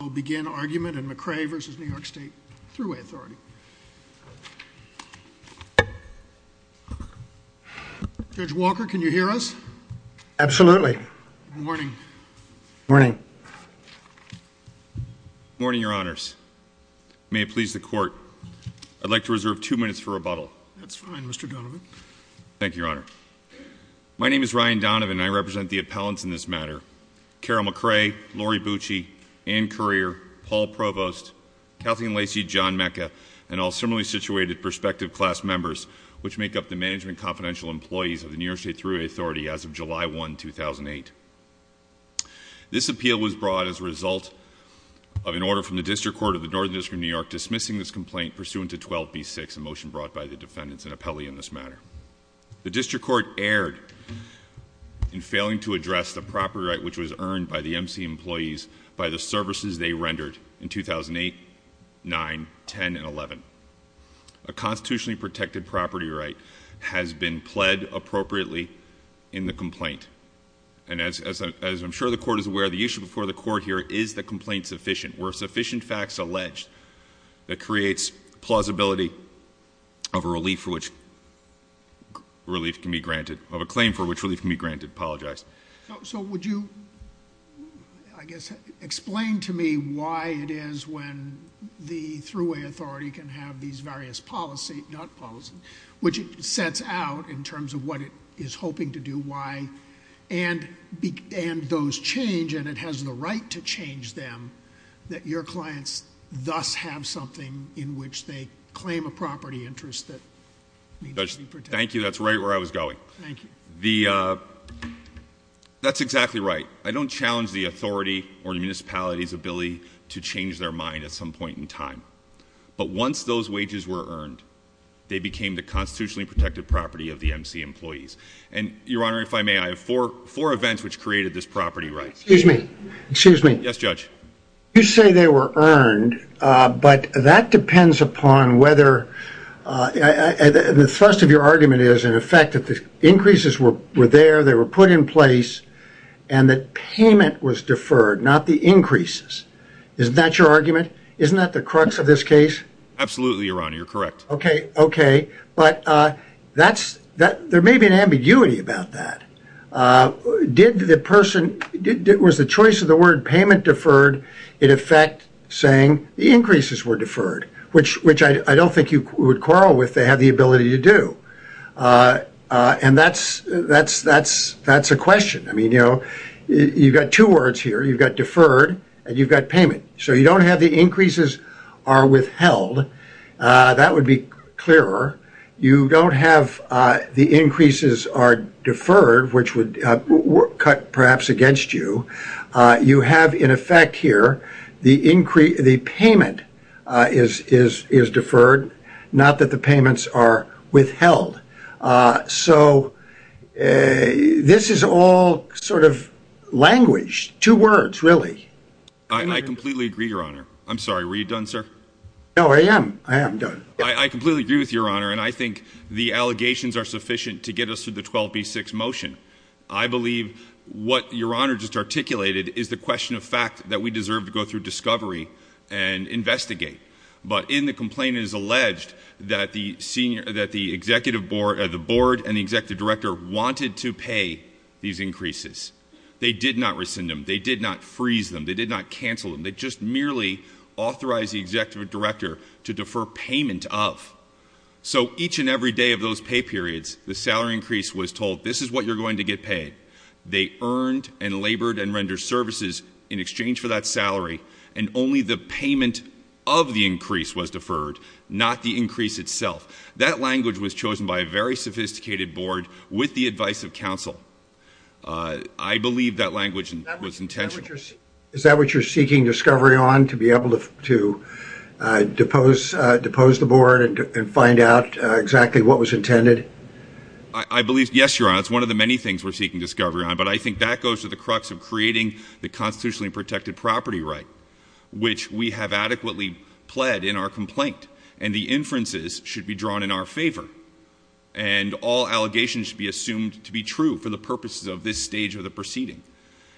We'll begin argument in McRae v. New York State Thruway Authority. Judge Walker, can you hear us? Absolutely. Good morning. Good morning. Good morning, Your Honors. May it please the Court, I'd like to reserve two minutes for rebuttal. That's fine, Mr. Donovan. Thank you, Your Honor. My name is Ryan Donovan, and I represent the appellants in this matter. Carol McRae, Lori Bucci, Ann Currier, Paul Provost, Kathleen Lacy, John Mecca, and all similarly situated prospective class members, which make up the Management and Confidential Employees of the New York State Thruway Authority as of July 1, 2008. This appeal was brought as a result of an order from the District Court of the Northern District of New York dismissing this complaint pursuant to 12B6, a motion brought by the defendants and appellee in this matter. The district court erred in failing to address the property right which was earned by the MC employees by the services they rendered in 2008, 9, 10, and 11. A constitutionally protected property right has been pled appropriately in the complaint. And as I'm sure the court is aware, the issue before the court here is the complaint sufficient. Were sufficient facts alleged that creates plausibility of a relief for which relief can be granted, of a claim for which relief can be granted, I apologize. So would you, I guess, explain to me why it is when the Thruway Authority can have these various policy, not policy, which it sets out in terms of what it is hoping to do, why, and those change, and it has the right to change them, that your clients thus have something in which they claim a property interest that needs to be protected. Thank you. That's right where I was going. Thank you. That's exactly right. I don't challenge the authority or the municipality's ability to change their mind at some point in time. But once those wages were earned, they became the constitutionally protected property of the MC employees. And, Your Honor, if I may, I have four events which created this property right. Excuse me. Excuse me. Yes, Judge. You say they were earned, but that depends upon whether, the thrust of your argument is, in effect, that the increases were there, they were put in place, and that payment was deferred, not the increases. Isn't that your argument? Isn't that the crux of this case? Absolutely, Your Honor. You're correct. Okay. Okay. But that's, there may be an ambiguity about that. Did the person, was the choice of the word payment deferred in effect saying the increases were deferred, which I don't think you would quarrel with. They have the ability to do. And that's a question. I mean, you know, you've got two words here. You've got deferred and you've got payment. So you don't have the increases are withheld. That would be clearer. You don't have the increases are deferred, which would cut perhaps against you. You have, in effect here, the increase, the payment is deferred, not that the payments are withheld. So this is all sort of language, two words, really. I completely agree, Your Honor. I'm sorry. Were you done, sir? No, I am. I am done. I completely agree with Your Honor. And I think the allegations are sufficient to get us through the 12B6 motion. I believe what Your Honor just articulated is the question of fact that we deserve to go through discovery and investigate. But in the complaint, it is alleged that the board and the executive director wanted to pay these increases. They did not rescind them. They did not freeze them. They did not cancel them. They just merely authorized the executive director to defer payment of. So each and every day of those pay periods, the salary increase was told, this is what you're going to get paid. They earned and labored and rendered services in exchange for that salary. And only the payment of the increase was deferred, not the increase itself. That language was chosen by a very sophisticated board with the advice of counsel. I believe that language was intentional. Is that what you're seeking discovery on, to be able to depose the board and find out exactly what was intended? I believe, yes, Your Honor, it's one of the many things we're seeking discovery on. But I think that goes to the crux of creating the constitutionally protected property right, which we have adequately pled in our complaint. And the inferences should be drawn in our favor. And all allegations should be assumed to be true for the purposes of this stage of the proceeding.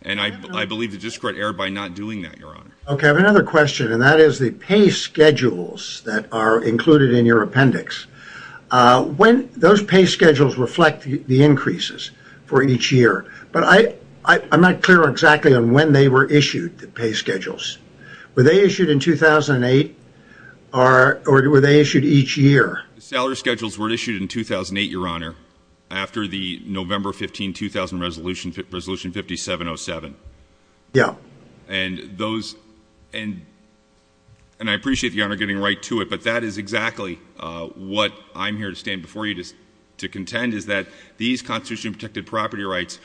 And I believe the district erred by not doing that, Your Honor. Okay, I have another question, and that is the pay schedules that are included in your appendix. When those pay schedules reflect the increases for each year. But I'm not clear exactly on when they were issued, the pay schedules. Were they issued in 2008 or were they issued each year? The salary schedules were issued in 2008, Your Honor, after the November 15, 2000 resolution 5707. Yeah. And those, and I appreciate the Honor getting right to it, but that is exactly what I'm here to stand before you to contend, is that these constitutionally protected property rights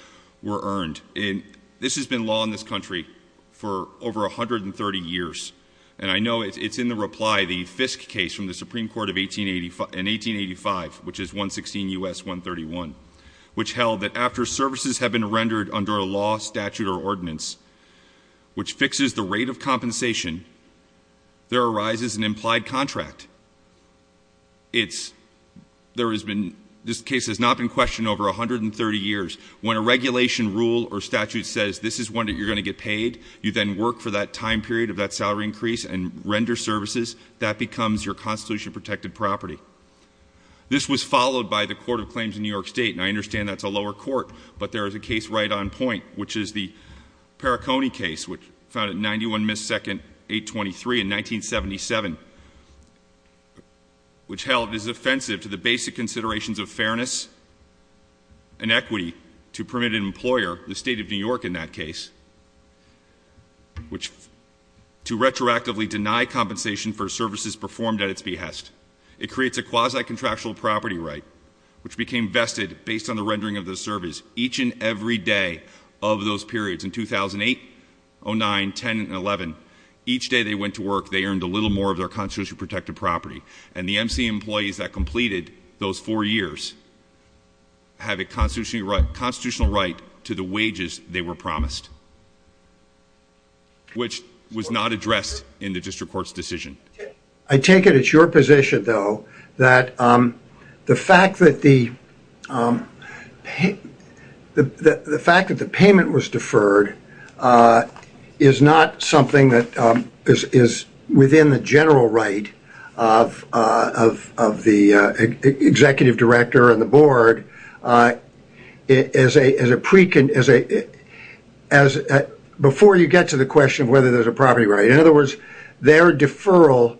were earned. And this has been law in this country for over 130 years. And I know it's in the reply, the Fisk case from the Supreme Court in 1885, which is 116 U.S. 131. Which held that after services have been rendered under a law, statute, or ordinance, which fixes the rate of compensation, there arises an implied contract. It's, there has been, this case has not been questioned over 130 years. When a regulation rule or statute says this is when you're going to get paid, you then work for that time period of that salary increase and render services, that becomes your constitution protected property. This was followed by the Court of Claims in New York State. And I understand that's a lower court. But there is a case right on point, which is the Perricone case, which found it 91 missed second 823 in 1977. Which held it is offensive to the basic considerations of fairness and equity. To permit an employer, the state of New York in that case, which to retroactively deny compensation for services performed at its behest. It creates a quasi-contractual property right, which became vested based on the rendering of the service. Each and every day of those periods, in 2008, 09, 10, and 11, each day they went to work, they earned a little more of their constitution protected property. And the MC employees that completed those four years have a constitutional right to the wages they were promised. Which was not addressed in the district court's decision. I take it it's your position, though, that the fact that the payment was deferred, is not something that is within the general right of the executive director and the board. Before you get to the question of whether there's a property right. In other words, their deferral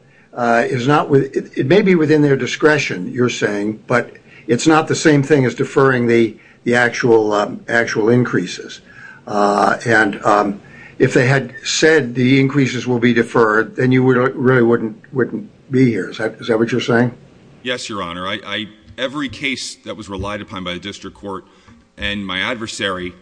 is not, it may be within their discretion, you're saying, but it's not the same thing as deferring the actual increases. And if they had said the increases will be deferred, then you really wouldn't be here. Is that what you're saying? Yes, your honor. Every case that was relied upon by the district court and my adversary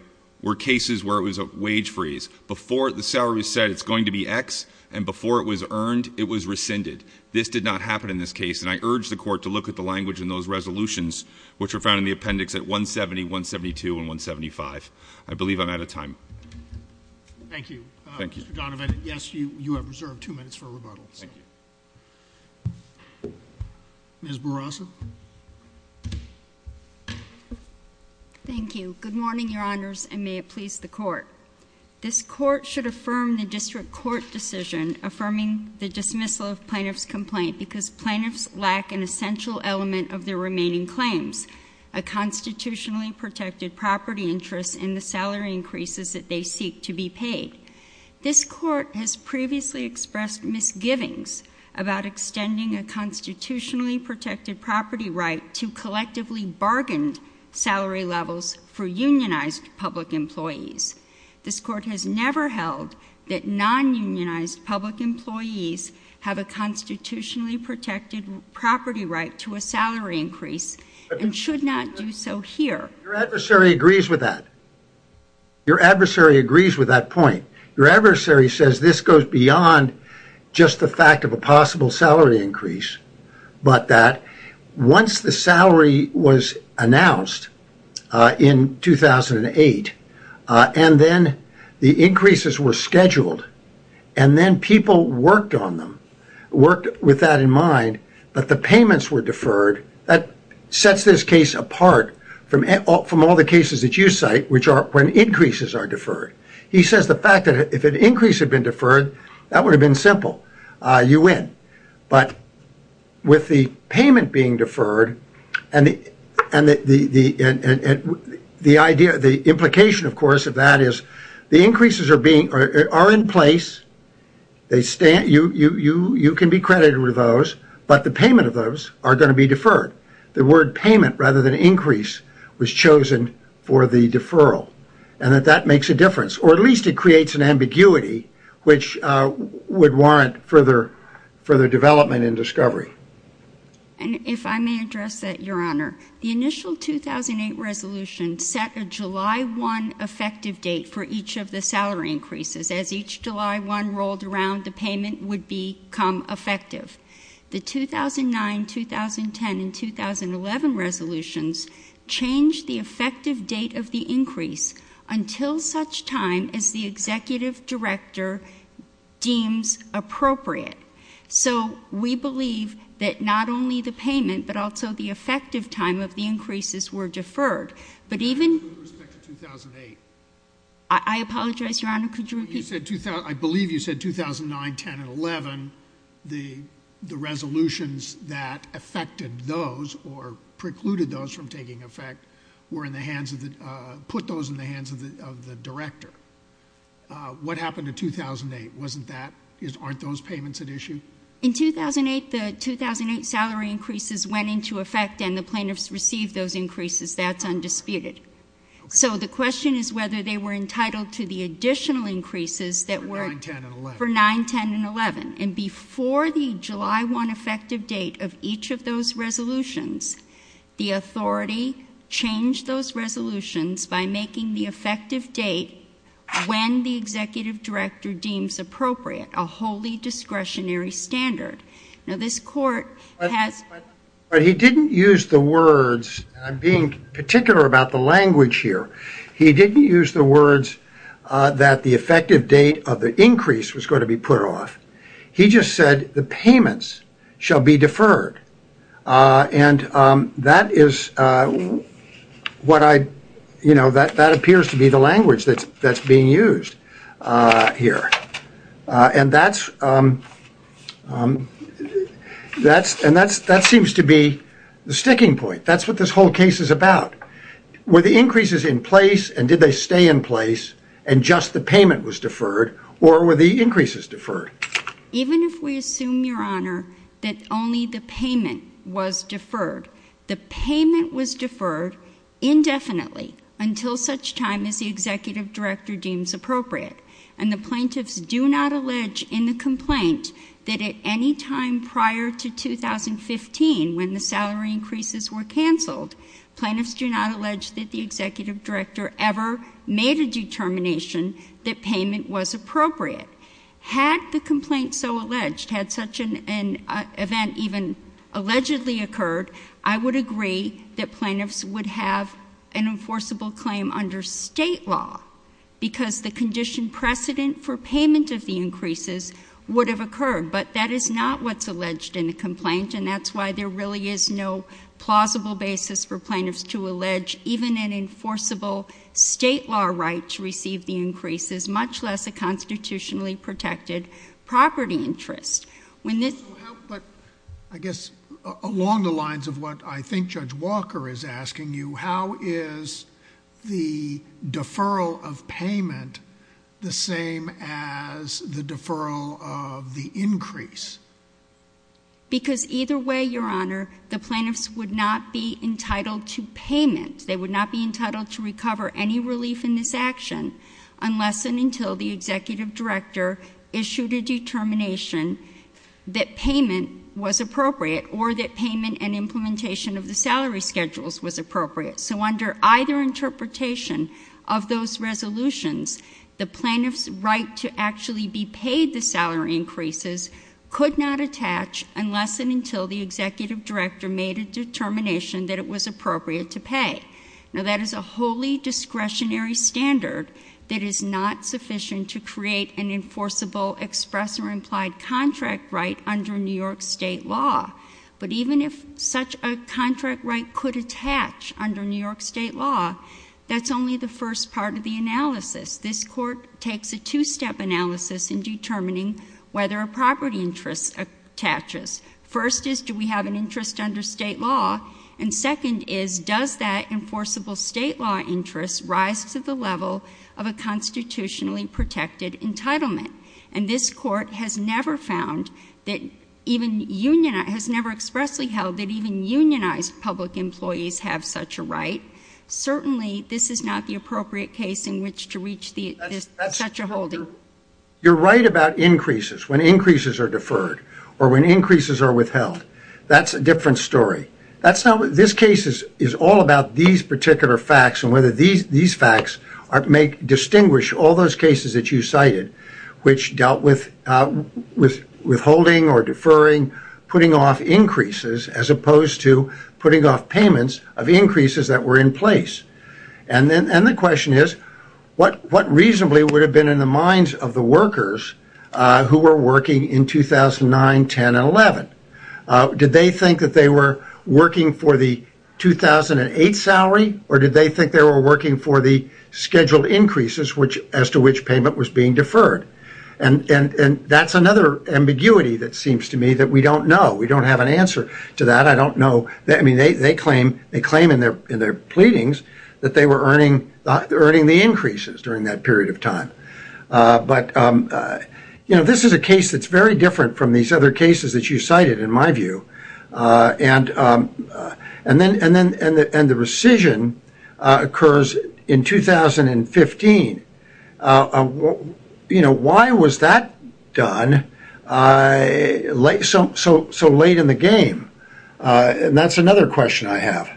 were cases where it was a wage freeze. Before the salary was set, it's going to be X, and before it was earned, it was rescinded. This did not happen in this case, and I urge the court to look at the language in those resolutions, which were found in the appendix at 170, 172, and 175. I believe I'm out of time. Thank you. Thank you. Mr. Donovan, yes, you have reserved two minutes for rebuttal. Thank you. Ms. Bourassa. Thank you. Good morning, your honors, and may it please the court. This court should affirm the district court decision affirming the dismissal of plaintiff's complaint because plaintiffs lack an essential element of their remaining claims, a constitutionally protected property interest in the salary increases that they seek to be paid. This court has previously expressed misgivings about extending a constitutionally protected property right to collectively bargained salary levels for unionized public employees. This court has never held that non-unionized public employees have a constitutionally protected property right to a salary increase and should not do so here. Your adversary agrees with that. Your adversary agrees with that point. Your adversary says this goes beyond just the fact of a possible salary increase, but that once the salary was announced in 2008 and then the increases were scheduled and then people worked on them, worked with that in mind, but the payments were deferred. That sets this case apart from all the cases that you cite, which are when increases are deferred. He says the fact that if an increase had been deferred, that would have been simple. You win. But with the payment being deferred and the idea, the implication, of course, of that is the increases are in place. You can be credited with those, but the payment of those are going to be deferred. The word payment rather than increase was chosen for the deferral. That makes a difference, or at least it creates an ambiguity, which would warrant further development and discovery. If I may address that, Your Honor, the initial 2008 resolution set a July 1 effective date for each of the salary increases. As each July 1 rolled around, the payment would become effective. The 2009, 2010, and 2011 resolutions changed the effective date of the increase until such time as the executive director deems appropriate. So we believe that not only the payment, but also the effective time of the increases were deferred. But even— With respect to 2008. I apologize, Your Honor. Could you repeat? I believe you said 2009, 2010, and 2011. The resolutions that affected those or precluded those from taking effect were in the hands of the—put those in the hands of the director. What happened to 2008? Wasn't that—aren't those payments at issue? In 2008, the 2008 salary increases went into effect and the plaintiffs received those increases. That's undisputed. So the question is whether they were entitled to the additional increases that were— For 2009, 2010, and 2011. For 2009, 2010, and 2011. And before the July 1 effective date of each of those resolutions, the authority changed those resolutions by making the effective date, when the executive director deems appropriate, a wholly discretionary standard. Now, this court has— But he didn't use the words—I'm being particular about the language here. He didn't use the words that the effective date of the increase was going to be put off. He just said the payments shall be deferred. And that is what I—you know, that appears to be the language that's being used here. And that's—and that seems to be the sticking point. That's what this whole case is about. Were the increases in place, and did they stay in place, and just the payment was deferred, or were the increases deferred? Even if we assume, Your Honor, that only the payment was deferred, the payment was deferred indefinitely until such time as the executive director deems appropriate. And the plaintiffs do not allege in the complaint that at any time prior to 2015, when the salary increases were canceled, plaintiffs do not allege that the executive director ever made a determination that payment was appropriate. Had the complaint so alleged, had such an event even allegedly occurred, I would agree that plaintiffs would have an enforceable claim under state law, because the condition precedent for payment of the increases would have occurred. But that is not what's alleged in the complaint, and that's why there really is no plausible basis for plaintiffs to allege even an enforceable state law right to receive the increases, much less a constitutionally protected property interest. But I guess along the lines of what I think Judge Walker is asking you, how is the deferral of payment the same as the deferral of the increase? Because either way, Your Honor, the plaintiffs would not be entitled to payment. They would not be entitled to recover any relief in this action, unless and until the executive director issued a determination that payment was appropriate, or that payment and implementation of the salary schedules was appropriate. So under either interpretation of those resolutions, the plaintiff's right to actually be paid the salary increases could not attach, unless and until the executive director made a determination that it was appropriate to pay. Now that is a wholly discretionary standard that is not sufficient to create an enforceable express or implied contract right under New York state law. But even if such a contract right could attach under New York state law, that's only the first part of the analysis. This Court takes a two-step analysis in determining whether a property interest attaches. First is, do we have an interest under state law? And second is, does that enforceable state law interest rise to the level of a constitutionally protected entitlement? And this Court has never found that even unionized, has never expressly held that even unionized public employees have such a right. Certainly, this is not the appropriate case in which to reach such a holding. You're right about increases. When increases are deferred or when increases are withheld, that's a different story. This case is all about these particular facts and whether these facts distinguish all those cases that you cited, which dealt with withholding or deferring, putting off increases, as opposed to putting off payments of increases that were in place. And the question is, what reasonably would have been in the minds of the workers who were working in 2009, 10, and 11? Did they think that they were working for the 2008 salary, or did they think they were working for the scheduled increases as to which payment was being deferred? And that's another ambiguity that seems to me that we don't know. We don't have an answer to that. I don't know. I mean, they claim in their pleadings that they were earning the increases during that period of time. But, you know, this is a case that's very different from these other cases that you cited, in my view. And the rescission occurs in 2015. You know, why was that done so late in the game? And that's another question I have.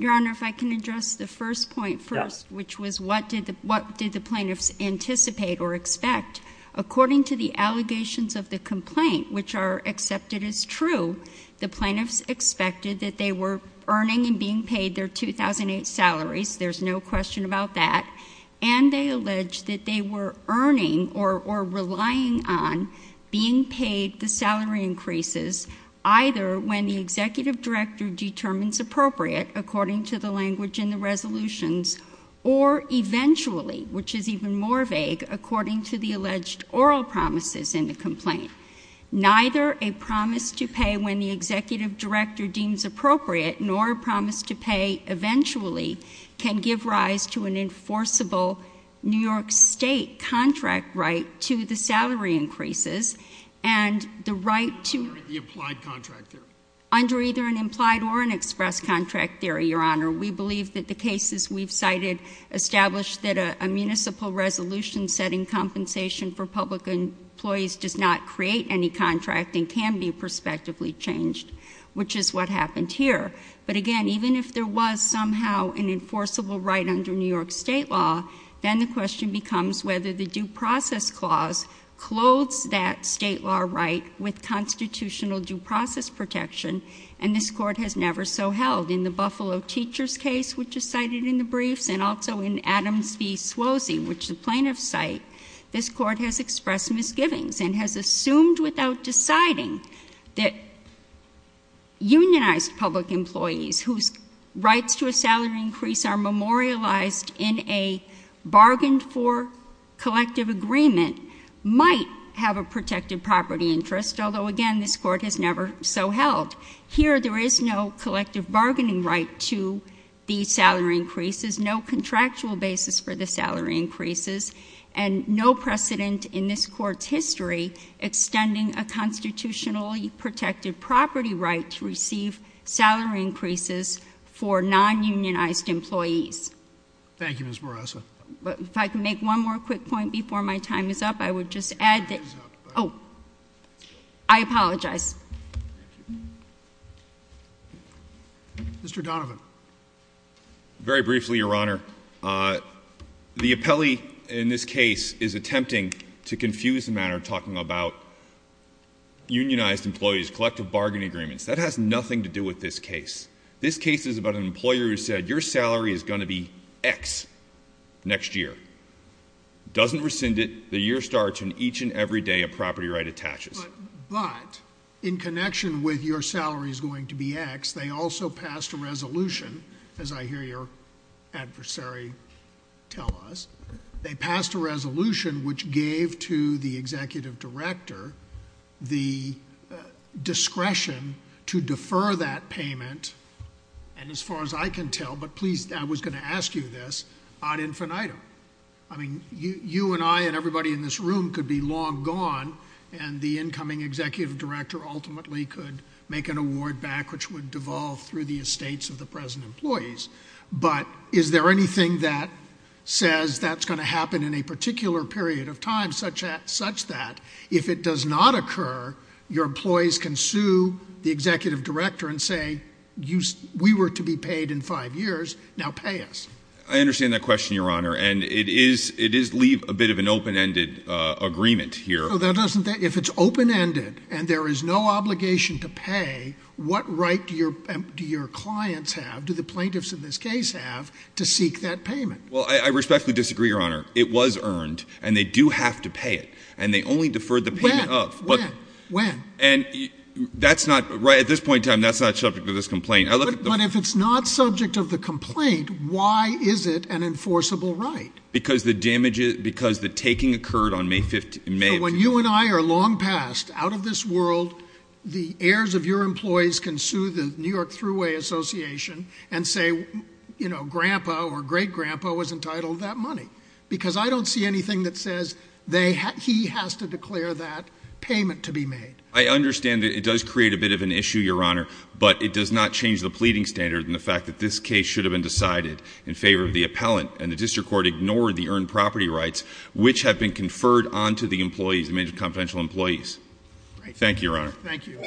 Your Honor, if I can address the first point first, which was what did the plaintiffs anticipate or expect? According to the allegations of the complaint, which are accepted as true, the plaintiffs expected that they were earning and being paid their 2008 salaries. There's no question about that. And they allege that they were earning or relying on being paid the salary increases, either when the executive director determines appropriate, according to the language in the resolutions, or eventually, which is even more vague, according to the alleged oral promises in the complaint. Neither a promise to pay when the executive director deems appropriate, nor a promise to pay eventually, can give rise to an enforceable New York State contract right to the salary increases, and the right to- Under the implied contract theory. Under either an implied or an express contract theory, Your Honor. We believe that the cases we've cited establish that a municipal resolution setting compensation for public employees does not create any contract and can be prospectively changed, which is what happened here. But again, even if there was somehow an enforceable right under New York State law, then the question becomes whether the due process clause clothes that state law right with constitutional due process protection. And this court has never so held. In the Buffalo teacher's case, which is cited in the briefs, and also in Adams v. Swosey, which the plaintiffs cite, this court has expressed misgivings and has assumed without deciding that unionized public employees whose rights to a salary increase are memorialized in a bargained for collective agreement might have a protected property interest, although again, this court has never so held. Here, there is no collective bargaining right to these salary increases, no contractual basis for the salary increases, and no precedent in this court's history extending a constitutionally protected property right to receive salary increases for non-unionized employees. Thank you, Ms. Barraza. If I can make one more quick point before my time is up, I would just add that- Time is up. Oh. I apologize. Thank you. Mr. Donovan. Very briefly, Your Honor, the appellee in this case is attempting to confuse the matter talking about unionized employees, collective bargaining agreements. That has nothing to do with this case. This case is about an employer who said your salary is going to be X next year, doesn't rescind it, the year starts, and each and every day a property right attaches. But in connection with your salary is going to be X, they also passed a resolution, as I hear your adversary tell us. They passed a resolution which gave to the executive director the discretion to defer that payment, and as far as I can tell, but please, I was going to ask you this, ad infinitum. I mean, you and I and everybody in this room could be long gone, and the incoming executive director ultimately could make an award back which would devolve through the estates of the present employees, but is there anything that says that's going to happen in a particular period of time such that, if it does not occur, your employees can sue the executive director and say, we were to be paid in five years, now pay us. I understand that question, Your Honor, and it does leave a bit of an open-ended agreement here. If it's open-ended and there is no obligation to pay, what right do your clients have, do the plaintiffs in this case have, to seek that payment? Well, I respectfully disagree, Your Honor. It was earned, and they do have to pay it, and they only deferred the payment of. When? When? And that's not, at this point in time, that's not subject to this complaint. But if it's not subject of the complaint, why is it an enforceable right? Because the taking occurred on May 15th. So when you and I are long past, out of this world, the heirs of your employees can sue the New York Thruway Association and say, you know, Grandpa or Great Grandpa was entitled to that money, because I don't see anything that says he has to declare that payment to be made. I understand that it does create a bit of an issue, Your Honor, but it does not change the pleading standard and the fact that this case should have been decided in favor of the appellant, and the district court ignored the earned property rights, which have been conferred onto the employees, the major confidential employees. Thank you, Your Honor. Thank you.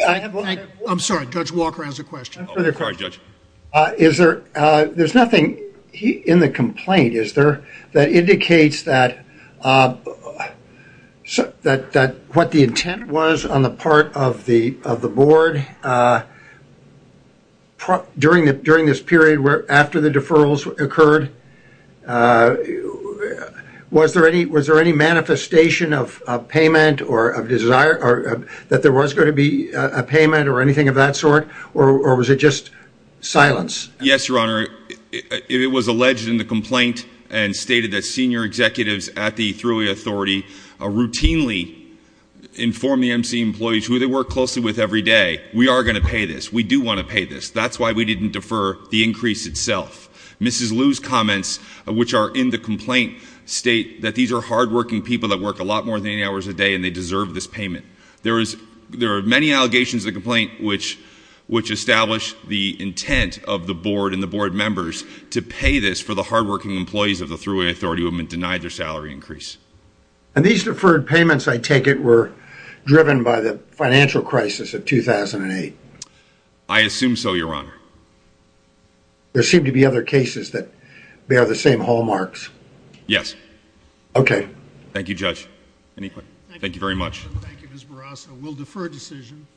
I'm sorry, Judge Walker has a question. I'm sorry, Judge. Is there, there's nothing in the complaint, is there, that indicates that what the intent was on the part of the board during this period after the deferrals occurred, was there any manifestation of payment or of desire that there was going to be a payment or anything of that sort, or was it just silence? Yes, Your Honor. It was alleged in the complaint and stated that senior executives at the Thruway Authority routinely inform the MC employees, who they work closely with every day, we are going to pay this, we do want to pay this. That's why we didn't defer the increase itself. Mrs. Liu's comments, which are in the complaint, state that these are hardworking people that work a lot more than 80 hours a day There are many allegations in the complaint which establish the intent of the board and the board members to pay this for the hardworking employees of the Thruway Authority who have been denied their salary increase. And these deferred payments, I take it, were driven by the financial crisis of 2008. I assume so, Your Honor. There seem to be other cases that bear the same hallmarks. Yes. Okay. Thank you, Judge. Any questions? Thank you very much. Thank you, Ms. Barrasso. We'll defer decision.